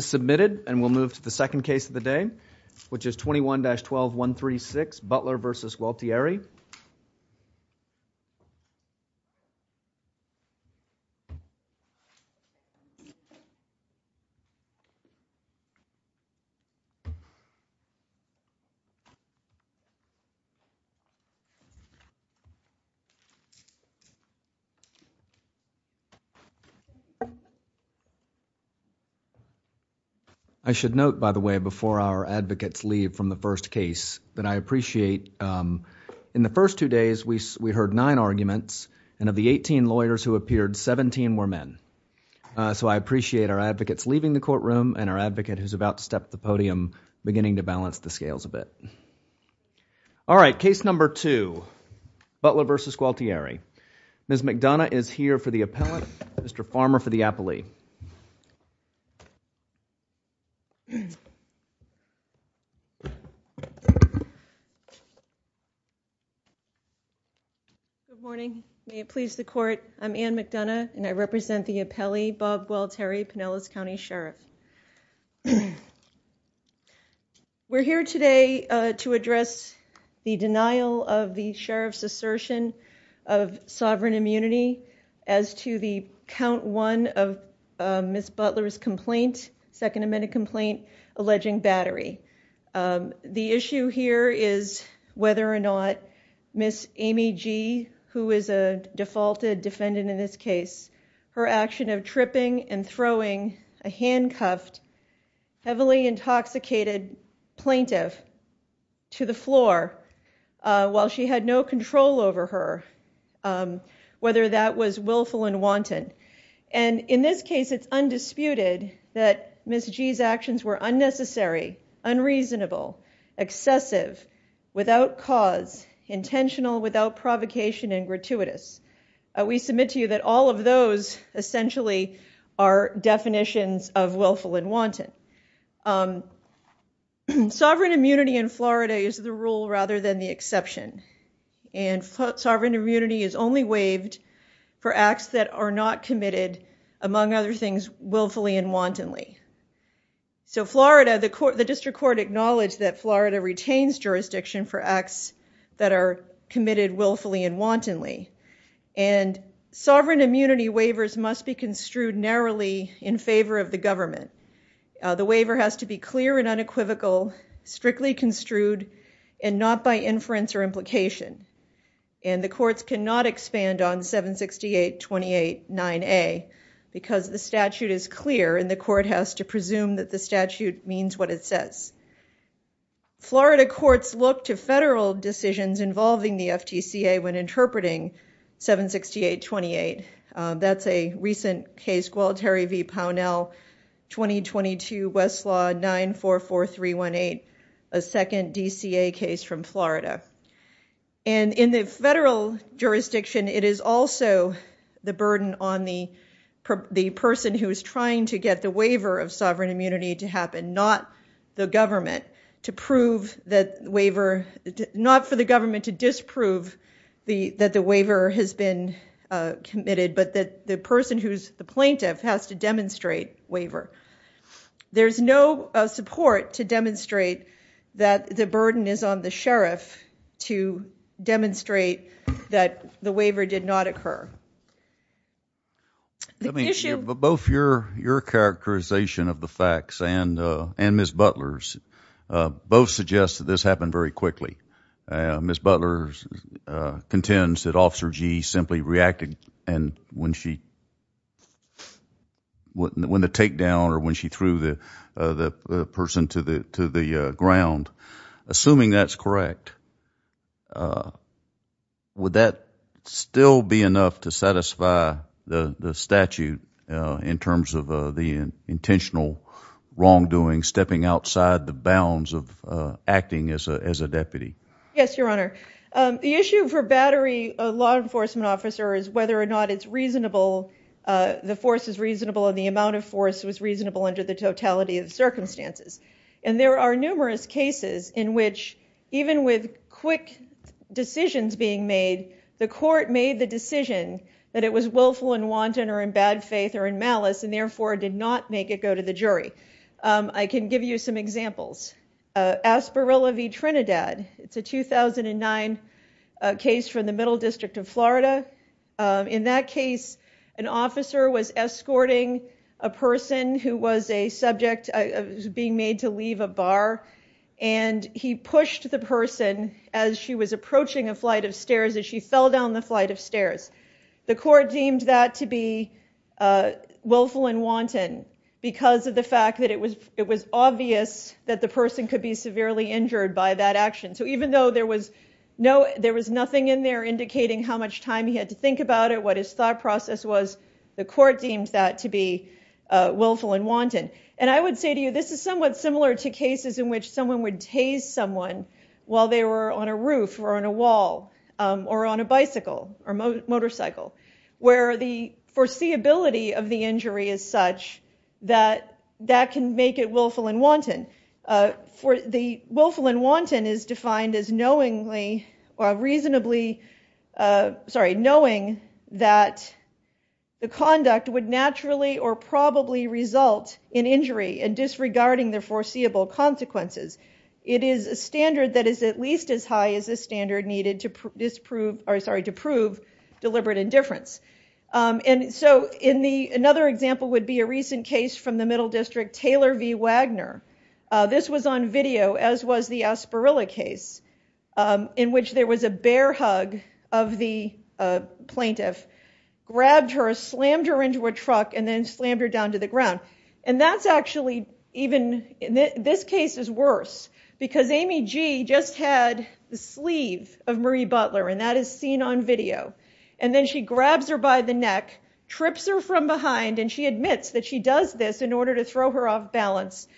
Submitted and we'll move to the second case of the day which is 21-12136 Butler v. Gualtieri. The first two days we heard nine arguments and of the 18 lawyers who appeared, 17 were men. I appreciate our advocates leaving the courtroom and our advocate who is about to step to the podium beginning to balance the scales a bit. Case number two, Butler v. Gualtieri. Ms. McDonough is here for the appellate, Mr. Farmer for the appellee. Good morning, may it please the court, I'm Anne McDonough and I represent the appellee Bob Gualtieri, Pinellas County Sheriff. We're here today to address the denial of the sheriff's assertion of sovereign immunity as to the count one of Ms. Butler's complaint, second amendment complaint alleging battery. The issue here is whether or not Ms. Amy G., who is a defaulted defendant in this case, her action of tripping and throwing a handcuffed, heavily intoxicated plaintiff to the floor while she had no control over her, whether that was willful and wanton. In this case, it's undisputed that Ms. G.'s actions were unnecessary, unreasonable, excessive, without cause, intentional, without provocation and gratuitous. We submit to you that all of those essentially are definitions of willful and wanton. Sovereign immunity in Florida is the rule rather than the exception. Sovereign immunity is only waived for acts that are not committed, among other things, willfully and wantonly. So Florida, the district court acknowledged that Florida retains jurisdiction for acts that are committed willfully and wantonly. And sovereign immunity waivers must be construed narrowly in favor of the government. The waiver has to be clear and unequivocal, strictly construed and not by inference or implication. And the courts cannot expand on 768-28-9A because the statute is clear and the court has to presume that the statute means what it says. Florida courts look to federal decisions involving the FTCA when interpreting 768-28. That's a recent case, Gualteri v. Pownell, 2022, Westlaw 944318, a second DCA case from Florida. And in the federal jurisdiction, it is also the burden on the person who is trying to get the waiver of sovereign immunity to happen. Not for the government to disprove that the waiver has been committed, but that the person who's the plaintiff has to demonstrate waiver. There's no support to demonstrate that the burden is on the sheriff to demonstrate that the waiver did not occur. I mean, both your characterization of the facts and Ms. Butler's both suggest that this happened very quickly. Ms. Butler contends that Officer Gee simply reacted and when the takedown or when she threw the person to the ground, assuming that's correct, would that still be enough to satisfy the statute in terms of the intentional wrongdoing, stepping outside the bounds of acting as a deputy? Yes, Your Honor. The issue for Battery, a law enforcement officer, is whether or not it's reasonable, the force is reasonable and the amount of force was reasonable under the totality of circumstances. And there are numerous cases in which even with quick decisions being made, the court made the decision that it was willful and wanton or in bad faith or in malice and therefore did not make it go to the jury. I can give you some examples. Asperilla v. Trinidad. It's a 2009 case from the Middle District of Florida. In that case, an officer was escorting a person who was a subject being made to leave a The court deemed that to be willful and wanton because of the fact that it was obvious that the person could be severely injured by that action. So even though there was nothing in there indicating how much time he had to think about it, what his thought process was, the court deemed that to be willful and wanton. And I would say to you, this is somewhat similar to cases in which someone would tase someone while they were on a roof or on a wall or on a bicycle or motorcycle where the foreseeability of the injury is such that that can make it willful and wanton. The willful and wanton is defined as knowingly or reasonably, sorry, knowing that the conduct would naturally or probably result in injury and disregarding the foreseeable consequences. It is a standard that is at least as high as the standard needed to prove deliberate indifference. And so another example would be a recent case from the Middle District, Taylor v. Wagner. This was on video, as was the Aspirilla case in which there was a bear hug of the plaintiff, grabbed her, slammed her into a truck, and then slammed her down to the ground. And that's actually even, this case is worse, because Amy G. just had the sleeve of Marie Butler, and that is seen on video. And then she grabs her by the neck, trips her from behind, and she admits that she does this in order to throw her off balance,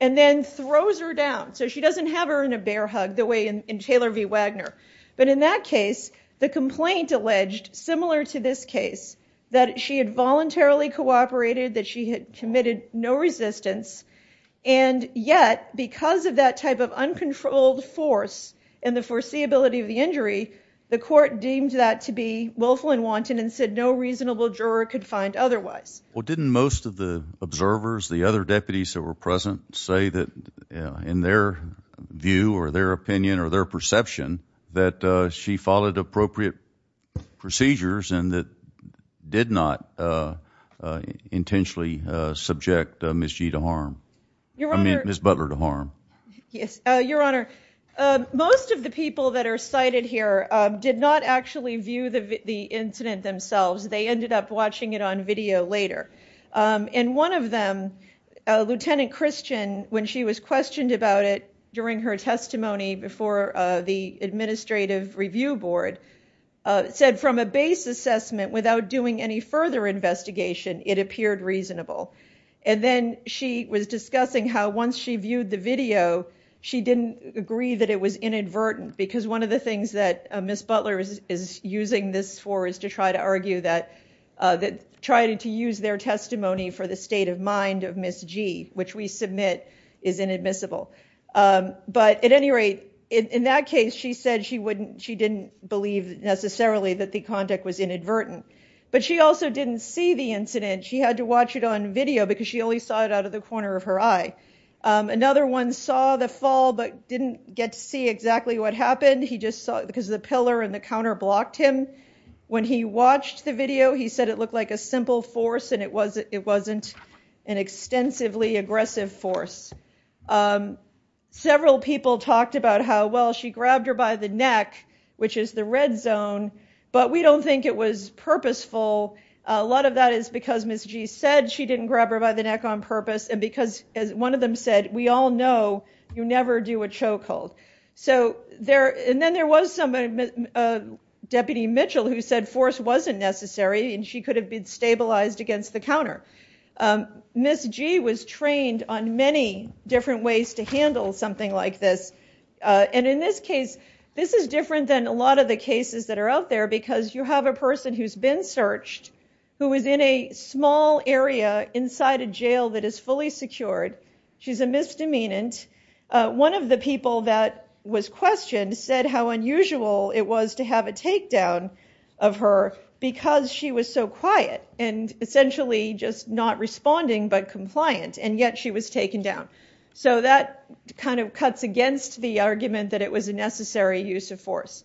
and then throws her down. So she doesn't have her in a bear hug the way in Taylor v. Wagner. But in that case, the complaint alleged, similar to this case, that she had voluntarily cooperated, that she had committed no resistance. And yet, because of that type of uncontrolled force and the foreseeability of the injury, the court deemed that to be willful and wanton and said no reasonable juror could find otherwise. Well, didn't most of the observers, the other deputies that were present, say that in their view or their opinion or their perception that she followed appropriate procedures and that did not intentionally subject Ms. G. to harm, I mean Ms. Butler to harm? Yes, your honor, most of the people that are cited here did not actually view the incident themselves. They ended up watching it on video later. And one of them, Lieutenant Christian, when she was questioned about it during her testimony before the administrative review board, said from a base assessment without doing any further investigation, it appeared reasonable. And then she was discussing how once she viewed the video, she didn't agree that it was inadvertent because one of the things that Ms. Butler is using this for is to try to argue that trying to use their testimony for the state of mind of Ms. G, which we submit is inadmissible. But at any rate, in that case, she said she didn't believe necessarily that the conduct was inadvertent. But she also didn't see the incident. She had to watch it on video because she only saw it out of the corner of her eye. Another one saw the fall but didn't get to see exactly what happened. He just saw it because the pillar and the counter blocked him. When he watched the video, he said it looked like a simple force and it wasn't an extensively aggressive force. Several people talked about how, well, she grabbed her by the neck, which is the red zone, but we don't think it was purposeful. A lot of that is because Ms. G said she didn't grab her by the neck on purpose. And because as one of them said, we all know you never do a chokehold. And then there was somebody, Deputy Mitchell, who said force wasn't necessary and she could have been stabilized against the counter. Ms. G was trained on many different ways to handle something like this. And in this case, this is different than a lot of the cases that are out there because you have a person who's been searched, who was in a small area inside a jail that is fully secured. She's a misdemeanant. One of the people that was questioned said how unusual it was to have a takedown of her because she was so quiet and essentially just not responding, but compliant. And yet she was taken down. So that kind of cuts against the argument that it was a necessary use of force.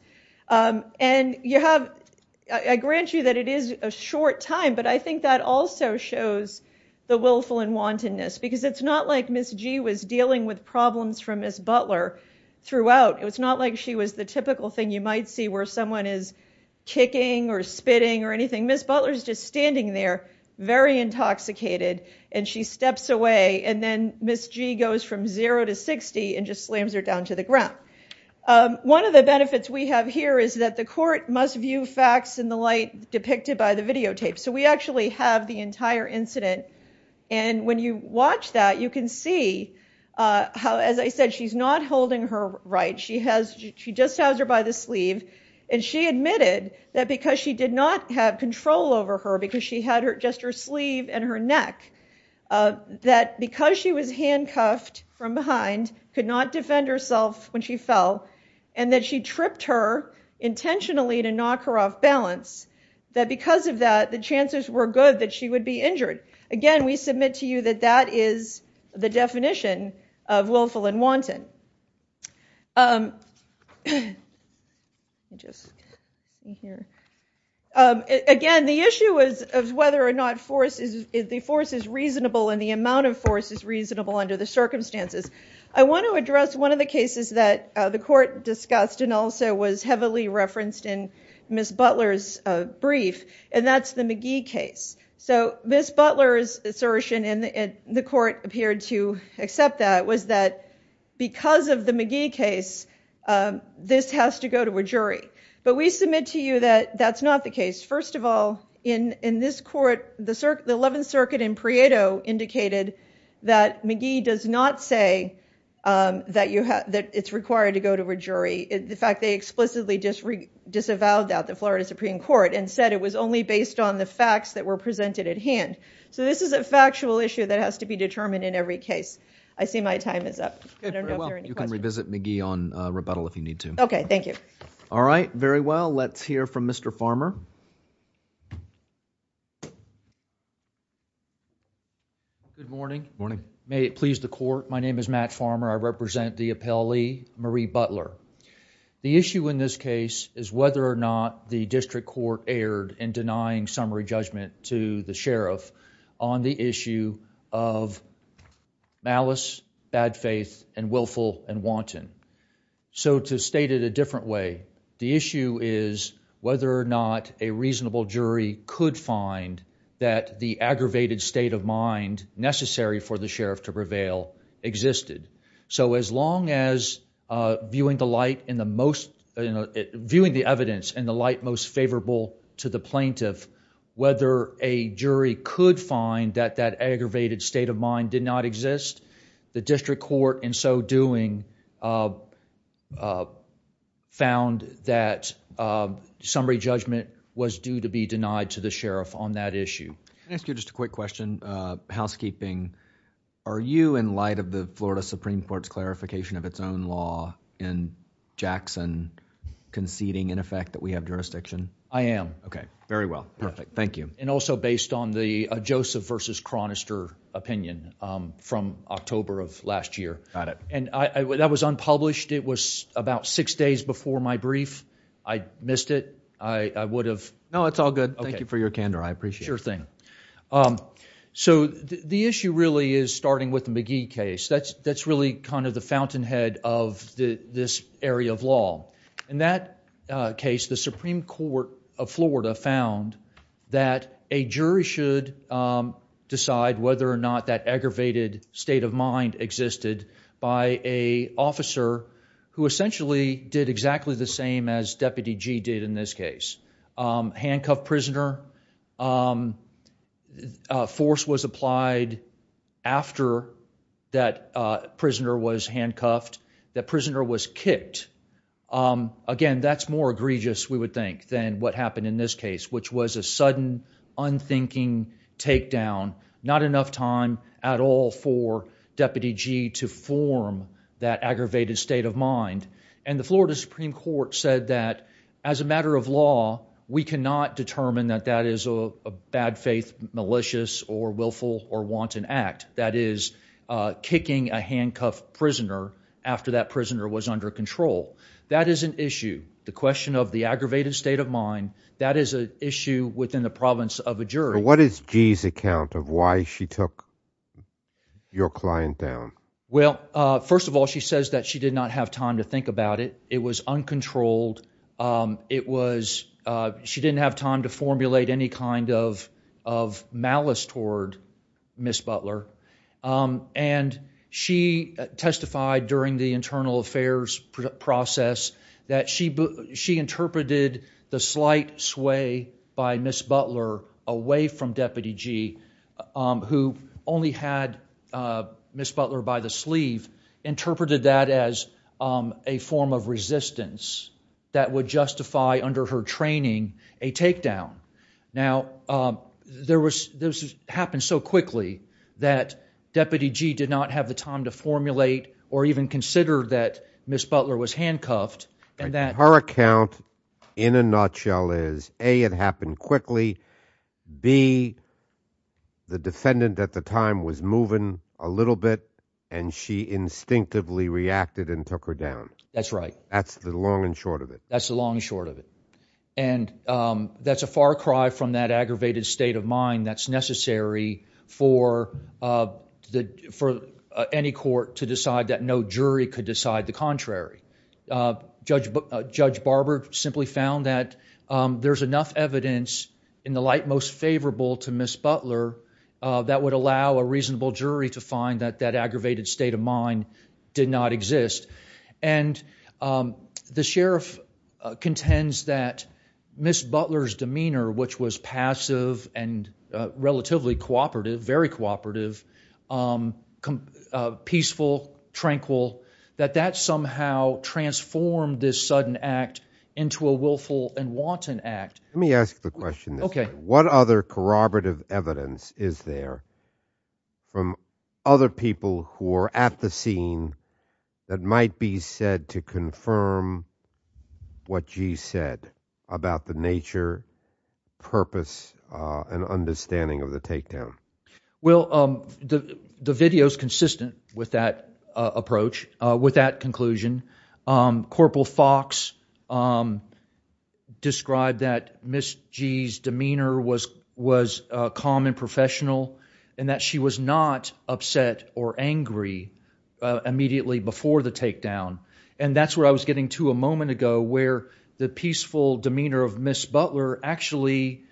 And I grant you that it is a short time, but I think that also shows the willful and wantonness because it's not like Ms. G was dealing with problems from Ms. Butler throughout. It was not like she was the typical thing you might see where someone is kicking or spitting or anything. Ms. Butler is just standing there, very intoxicated, and she steps away. And then Ms. G goes from zero to 60 and just slams her down to the ground. One of the benefits we have here is that the court must view facts in the light depicted by the videotape. So we actually have the entire incident. And when you watch that, you can see how, as I said, she's not holding her right. She just has her by the sleeve. And she admitted that because she did not have control over her because she had just her sleeve and her neck, that because she was handcuffed from behind, could not defend herself when she fell, and that she tripped her intentionally to knock her off balance, that because of that, the chances were good that she would be injured. Again, we submit to you that that is the definition of willful and wanton. Let me just see here. Again, the issue is whether or not the force is reasonable and the amount of force is reasonable under the circumstances. I want to address one of the cases that the court discussed and also was heavily referenced in Ms. Butler's brief, and that's the McGee case. So Ms. Butler's assertion, and the court appeared to accept that, was that because of the McGee case, this has to go to a jury. But we submit to you that that's not the case. First of all, in this court, the Eleventh Circuit in Prieto indicated that McGee does not say that it's required to go to a jury. In fact, they explicitly disavowed that, the Florida Supreme Court, and said it was only based on the facts that were presented at hand. So this is a factual issue that has to be determined in every case. I see my time is up. Okay, very well. You can revisit McGee on rebuttal if you need to. Okay. Thank you. All right. Very well. Let's hear from Mr. Farmer. Good morning. Morning. May it please the court. My name is Matt Farmer. I represent the appellee, Marie Butler. The issue in this case is whether or not the district court erred in denying summary judgment to the sheriff on the issue of malice, bad faith, and willful and wanton. So to state it a different way, the issue is whether or not a reasonable jury could find that the aggravated state of mind necessary for the sheriff to prevail existed. So as long as viewing the evidence in the light most favorable to the plaintiff, whether a jury could find that that aggravated state of mind did not exist, the district court in so doing found that summary judgment was due to be denied to the sheriff on that issue. Can I ask you just a quick question? Housekeeping, are you in light of the Florida Supreme Court's clarification of its own law in Jackson conceding in effect that we have jurisdiction? I am. Okay. Very well. Perfect. Thank you. And also based on the Joseph versus Chronister opinion from October of last year. Got it. And that was unpublished. It was about six days before my brief. I missed it. I would have. No, it's all good. Thank you for your candor. I appreciate your thing. So the issue really is starting with the McGee case. That's really kind of the fountainhead of this area of law. In that case, the Supreme Court of Florida found that a jury should decide whether or not that aggravated state of mind existed by a officer who essentially did exactly the same as Deputy G did in this case. Handcuffed prisoner. Force was applied after that prisoner was handcuffed. That prisoner was kicked. Again, that's more egregious, we would think, than what happened in this case, which was a sudden unthinking takedown. Not enough time at all for Deputy G to form that aggravated state of mind. And the Florida Supreme Court said that as a matter of law, we cannot determine that that is a bad faith, malicious or willful or wanton act that is kicking a handcuffed prisoner after that prisoner was under control. That is an issue. The question of the aggravated state of mind. That is an issue within the province of a jury. What is G's account of why she took your client down? Well, first of all, she says that she did not have time to think about it. It was uncontrolled. It was she didn't have time to formulate any kind of of malice toward Miss Butler. And she testified during the internal affairs process that she she interpreted the slight sway by Miss Butler away from Deputy G, who only had Miss Butler by the sleeve, interpreted that as a form of resistance that would justify under her training a takedown. Now, there was this happened so quickly that Deputy G did not have the time to formulate or even consider that Miss Butler was handcuffed. And that her account in a nutshell is, A, it happened quickly, B, the defendant at the time was moving a little bit and she instinctively reacted and took her down. That's right. That's the long and short of it. That's the long and short of it. And that's a far cry from that aggravated state of mind that's necessary for the for any court to decide that no jury could decide the contrary. Judge Judge Barber simply found that there's enough evidence in the light most favorable to Miss Butler that would allow a reasonable jury to find that that aggravated state of mind did not exist. And the sheriff contends that Miss Butler's demeanor, which was passive and relatively cooperative, very cooperative, peaceful, tranquil, that that somehow transformed this sudden act into a willful and wanton act. Let me ask the question. OK, what other corroborative evidence is there from other people who are at the scene that might be said to confirm what she said about the nature, purpose and understanding of the takedown? Well, the video is consistent with that approach. With that conclusion, Corporal Fox described that Miss Gee's demeanor was was calm and professional and that she was not upset or angry immediately before the takedown. And that's where I was getting to a moment ago where the peaceful demeanor of Miss Butler actually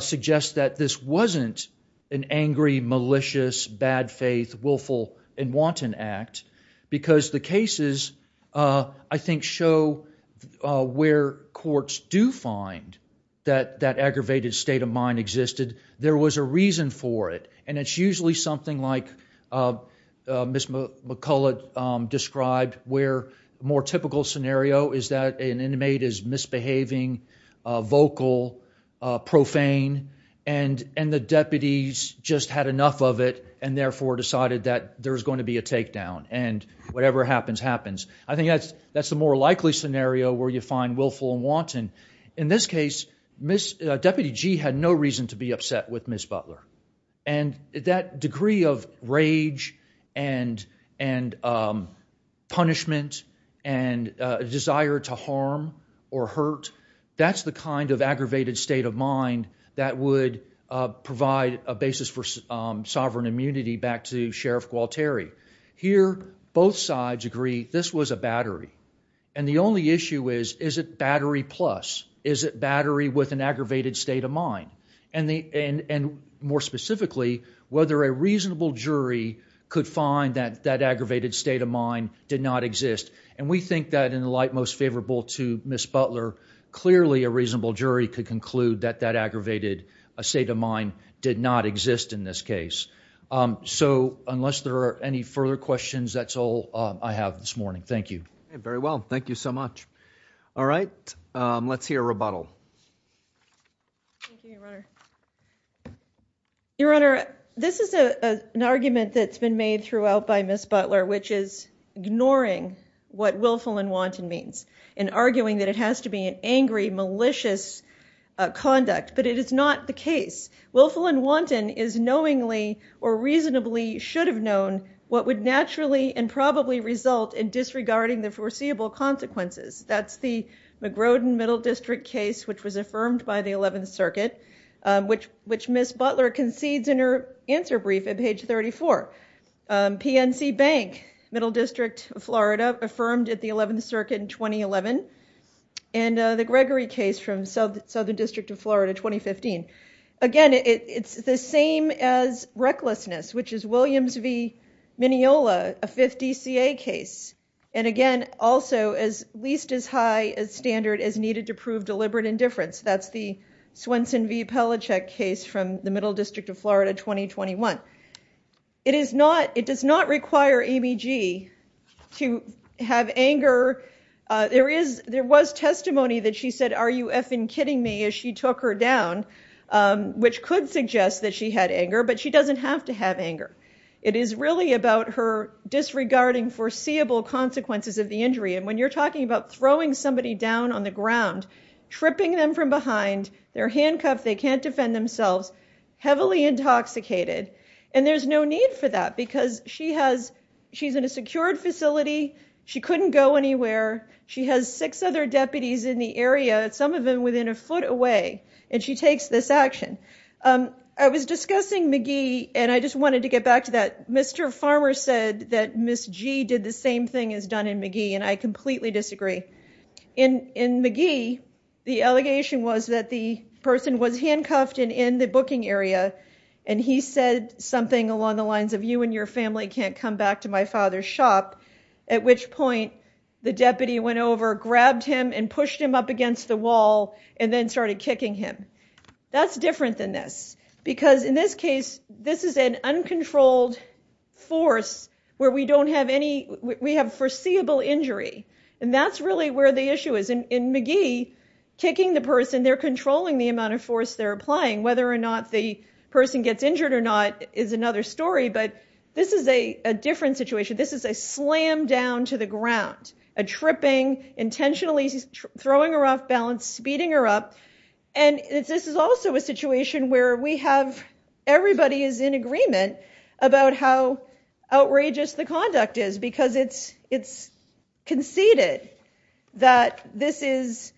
suggests that this wasn't an angry, malicious, bad faith, willful and wanton act because the cases, I think, show where courts do find that that aggravated state of mind existed. There was a reason for it. And it's usually something like Miss McCullough described where a more typical scenario is that an inmate is misbehaving, vocal, profane, and and the deputies just had enough of it and therefore decided that there's going to be a takedown and whatever happens happens. I think that's that's the more likely scenario where you find willful and wanton. In this case, Miss Deputy Gee had no reason to be upset with Miss Butler and that degree of rage and and punishment and desire to harm or hurt. That's the kind of aggravated state of mind that would provide a basis for sovereign immunity back to Sheriff Gualteri. Here, both sides agree this was a battery. And the only issue is, is it battery plus? Is it battery with an aggravated state of mind? And more specifically, whether a reasonable jury could find that that aggravated state of mind did not exist. And we think that in the light most favorable to Miss Butler, clearly a reasonable jury could conclude that that aggravated state of mind did not exist in this case. So unless there are any further questions, that's all I have this morning. Thank you. Very well. Thank you so much. All right, let's hear rebuttal. Thank you, Your Honor. Your Honor, this is an argument that's been made throughout by Miss Butler, which is ignoring what willful and wanton means and arguing that it has to be an angry, malicious conduct. But it is not the case. Willful and wanton is knowingly or reasonably should have known what would naturally and probably result in disregarding the foreseeable consequences. That's the McGrodin Middle District case, which was affirmed by the 11th Circuit, which Miss Butler concedes in her answer brief at page 34. PNC Bank, Middle District of Florida, affirmed at the 11th Circuit in 2011. And the Gregory case from Southern District of Florida, 2015. Again, it's the same as recklessness, which is Williams v. Mineola, a fifth DCA case. And again, also as least as high a standard as needed to prove deliberate indifference. That's the Swenson v. Pelichek case from the Middle District of Florida, 2021. It does not require Amy G to have anger. There was testimony that she said, are you effing kidding me, as she took her down, which could suggest that she had anger, but she doesn't have to have anger. It is really about her disregarding foreseeable consequences of the injury. And when you're talking about throwing somebody down on the ground, tripping them from behind, they're handcuffed. They can't defend themselves, heavily intoxicated. And there's no need for that because she's in a secured facility. She couldn't go anywhere. She has six other deputies in the area, some of them within a foot away. And she takes this action. I was discussing McGee. And I just wanted to get back to that. Mr. Farmer said that Ms. G did the same thing as done in McGee. And I completely disagree. In McGee, the allegation was that the person was handcuffed and in the booking area. And he said something along the lines of you and your family can't come back to my father's shop. At which point the deputy went over, grabbed him and pushed him up against the wall and then started kicking him. That's different than this. Because in this case, this is an uncontrolled force where we have foreseeable injury. And that's really where the issue is. In McGee, kicking the person, they're controlling the amount of force they're applying. Whether or not the person gets injured or not is another story. But this is a different situation. This is a slam down to the ground. A tripping, intentionally throwing her off balance, speeding her up. And this is also a situation where everybody is in agreement about how outrageous the conduct is. Because it's conceded that Ms.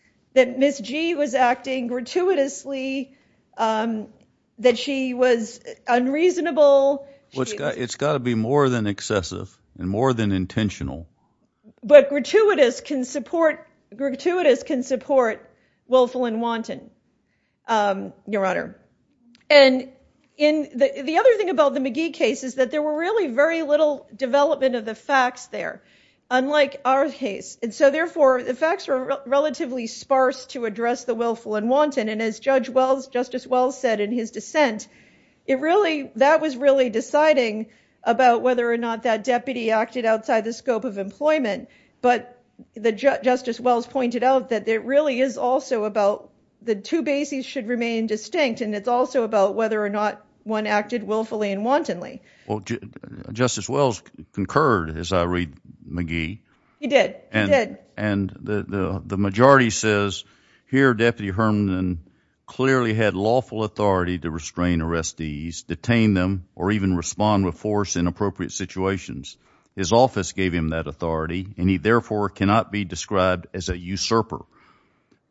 G was acting gratuitously, that she was unreasonable. It's got to be more than excessive and more than intentional. But gratuitous can support willful and wanton, Your Honor. And the other thing about the McGee case is that there were really very little development of the facts there, unlike our case. And so therefore, the facts were relatively sparse to address the willful and wanton. And as Justice Wells said in his dissent, that was really deciding about whether or not that deputy acted outside the scope of employment. But Justice Wells pointed out that it really is also about the two bases should remain distinct. And it's also about whether or not one acted willfully and wantonly. Well, Justice Wells concurred, as I read McGee. He did. He did. And the majority says, here Deputy Herndon clearly had lawful authority to restrain arrestees, detain them, or even respond with force in appropriate situations. His office gave him that authority, and he therefore cannot be described as a usurper.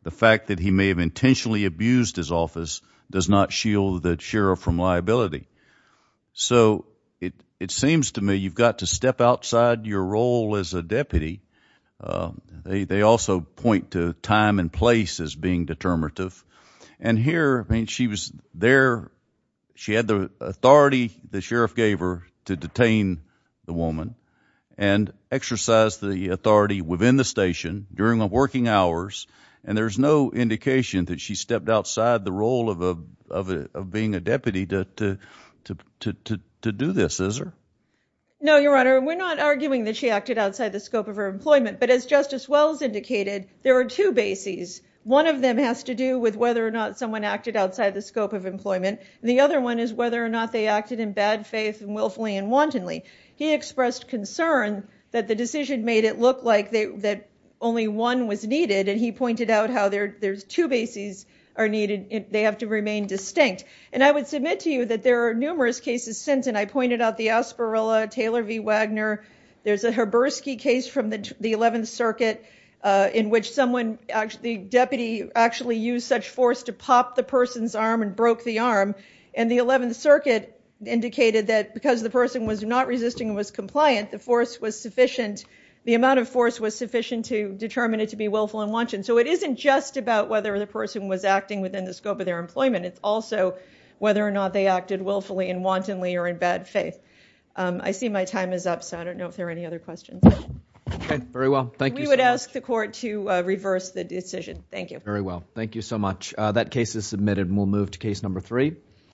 The fact that he may have intentionally abused his office does not shield the sheriff from liability. So it seems to me you've got to step outside your role as a deputy. They also point to time and place as being determinative. And here, I mean, she was there. She had the authority the sheriff gave her to detain the woman and exercise the authority within the station during the working hours. And there's no indication that she stepped outside the role of being a deputy to do this, is there? No, Your Honor. We're not arguing that she acted outside the scope of her employment. But as Justice Wells indicated, there are two bases. One of them has to do with whether or not someone acted outside the scope of employment. And the other one is whether or not they acted in bad faith and willfully and wantonly. He expressed concern that the decision made it look like that only one was needed. And he pointed out how there's two bases are needed. They have to remain distinct. And I would submit to you that there are numerous cases since. And I pointed out the Asperilla, Taylor v. Wagner. There's a Haberski case from the 11th Circuit in which the deputy actually used such force to pop the person's arm and broke the arm. And the 11th Circuit indicated that because the person was not resisting and was compliant, the force was sufficient. The amount of force was sufficient to determine it to be willful and wanton. So it isn't just about whether the person was acting within the scope of their employment. It's also whether or not they acted willfully and wantonly or in bad faith. I see my time is up. So I don't know if there are any other questions. Okay. Very well. Thank you. We would ask the court to reverse the decision. Thank you. Very well. Thank you so much. That case is submitted and we'll move to case number three.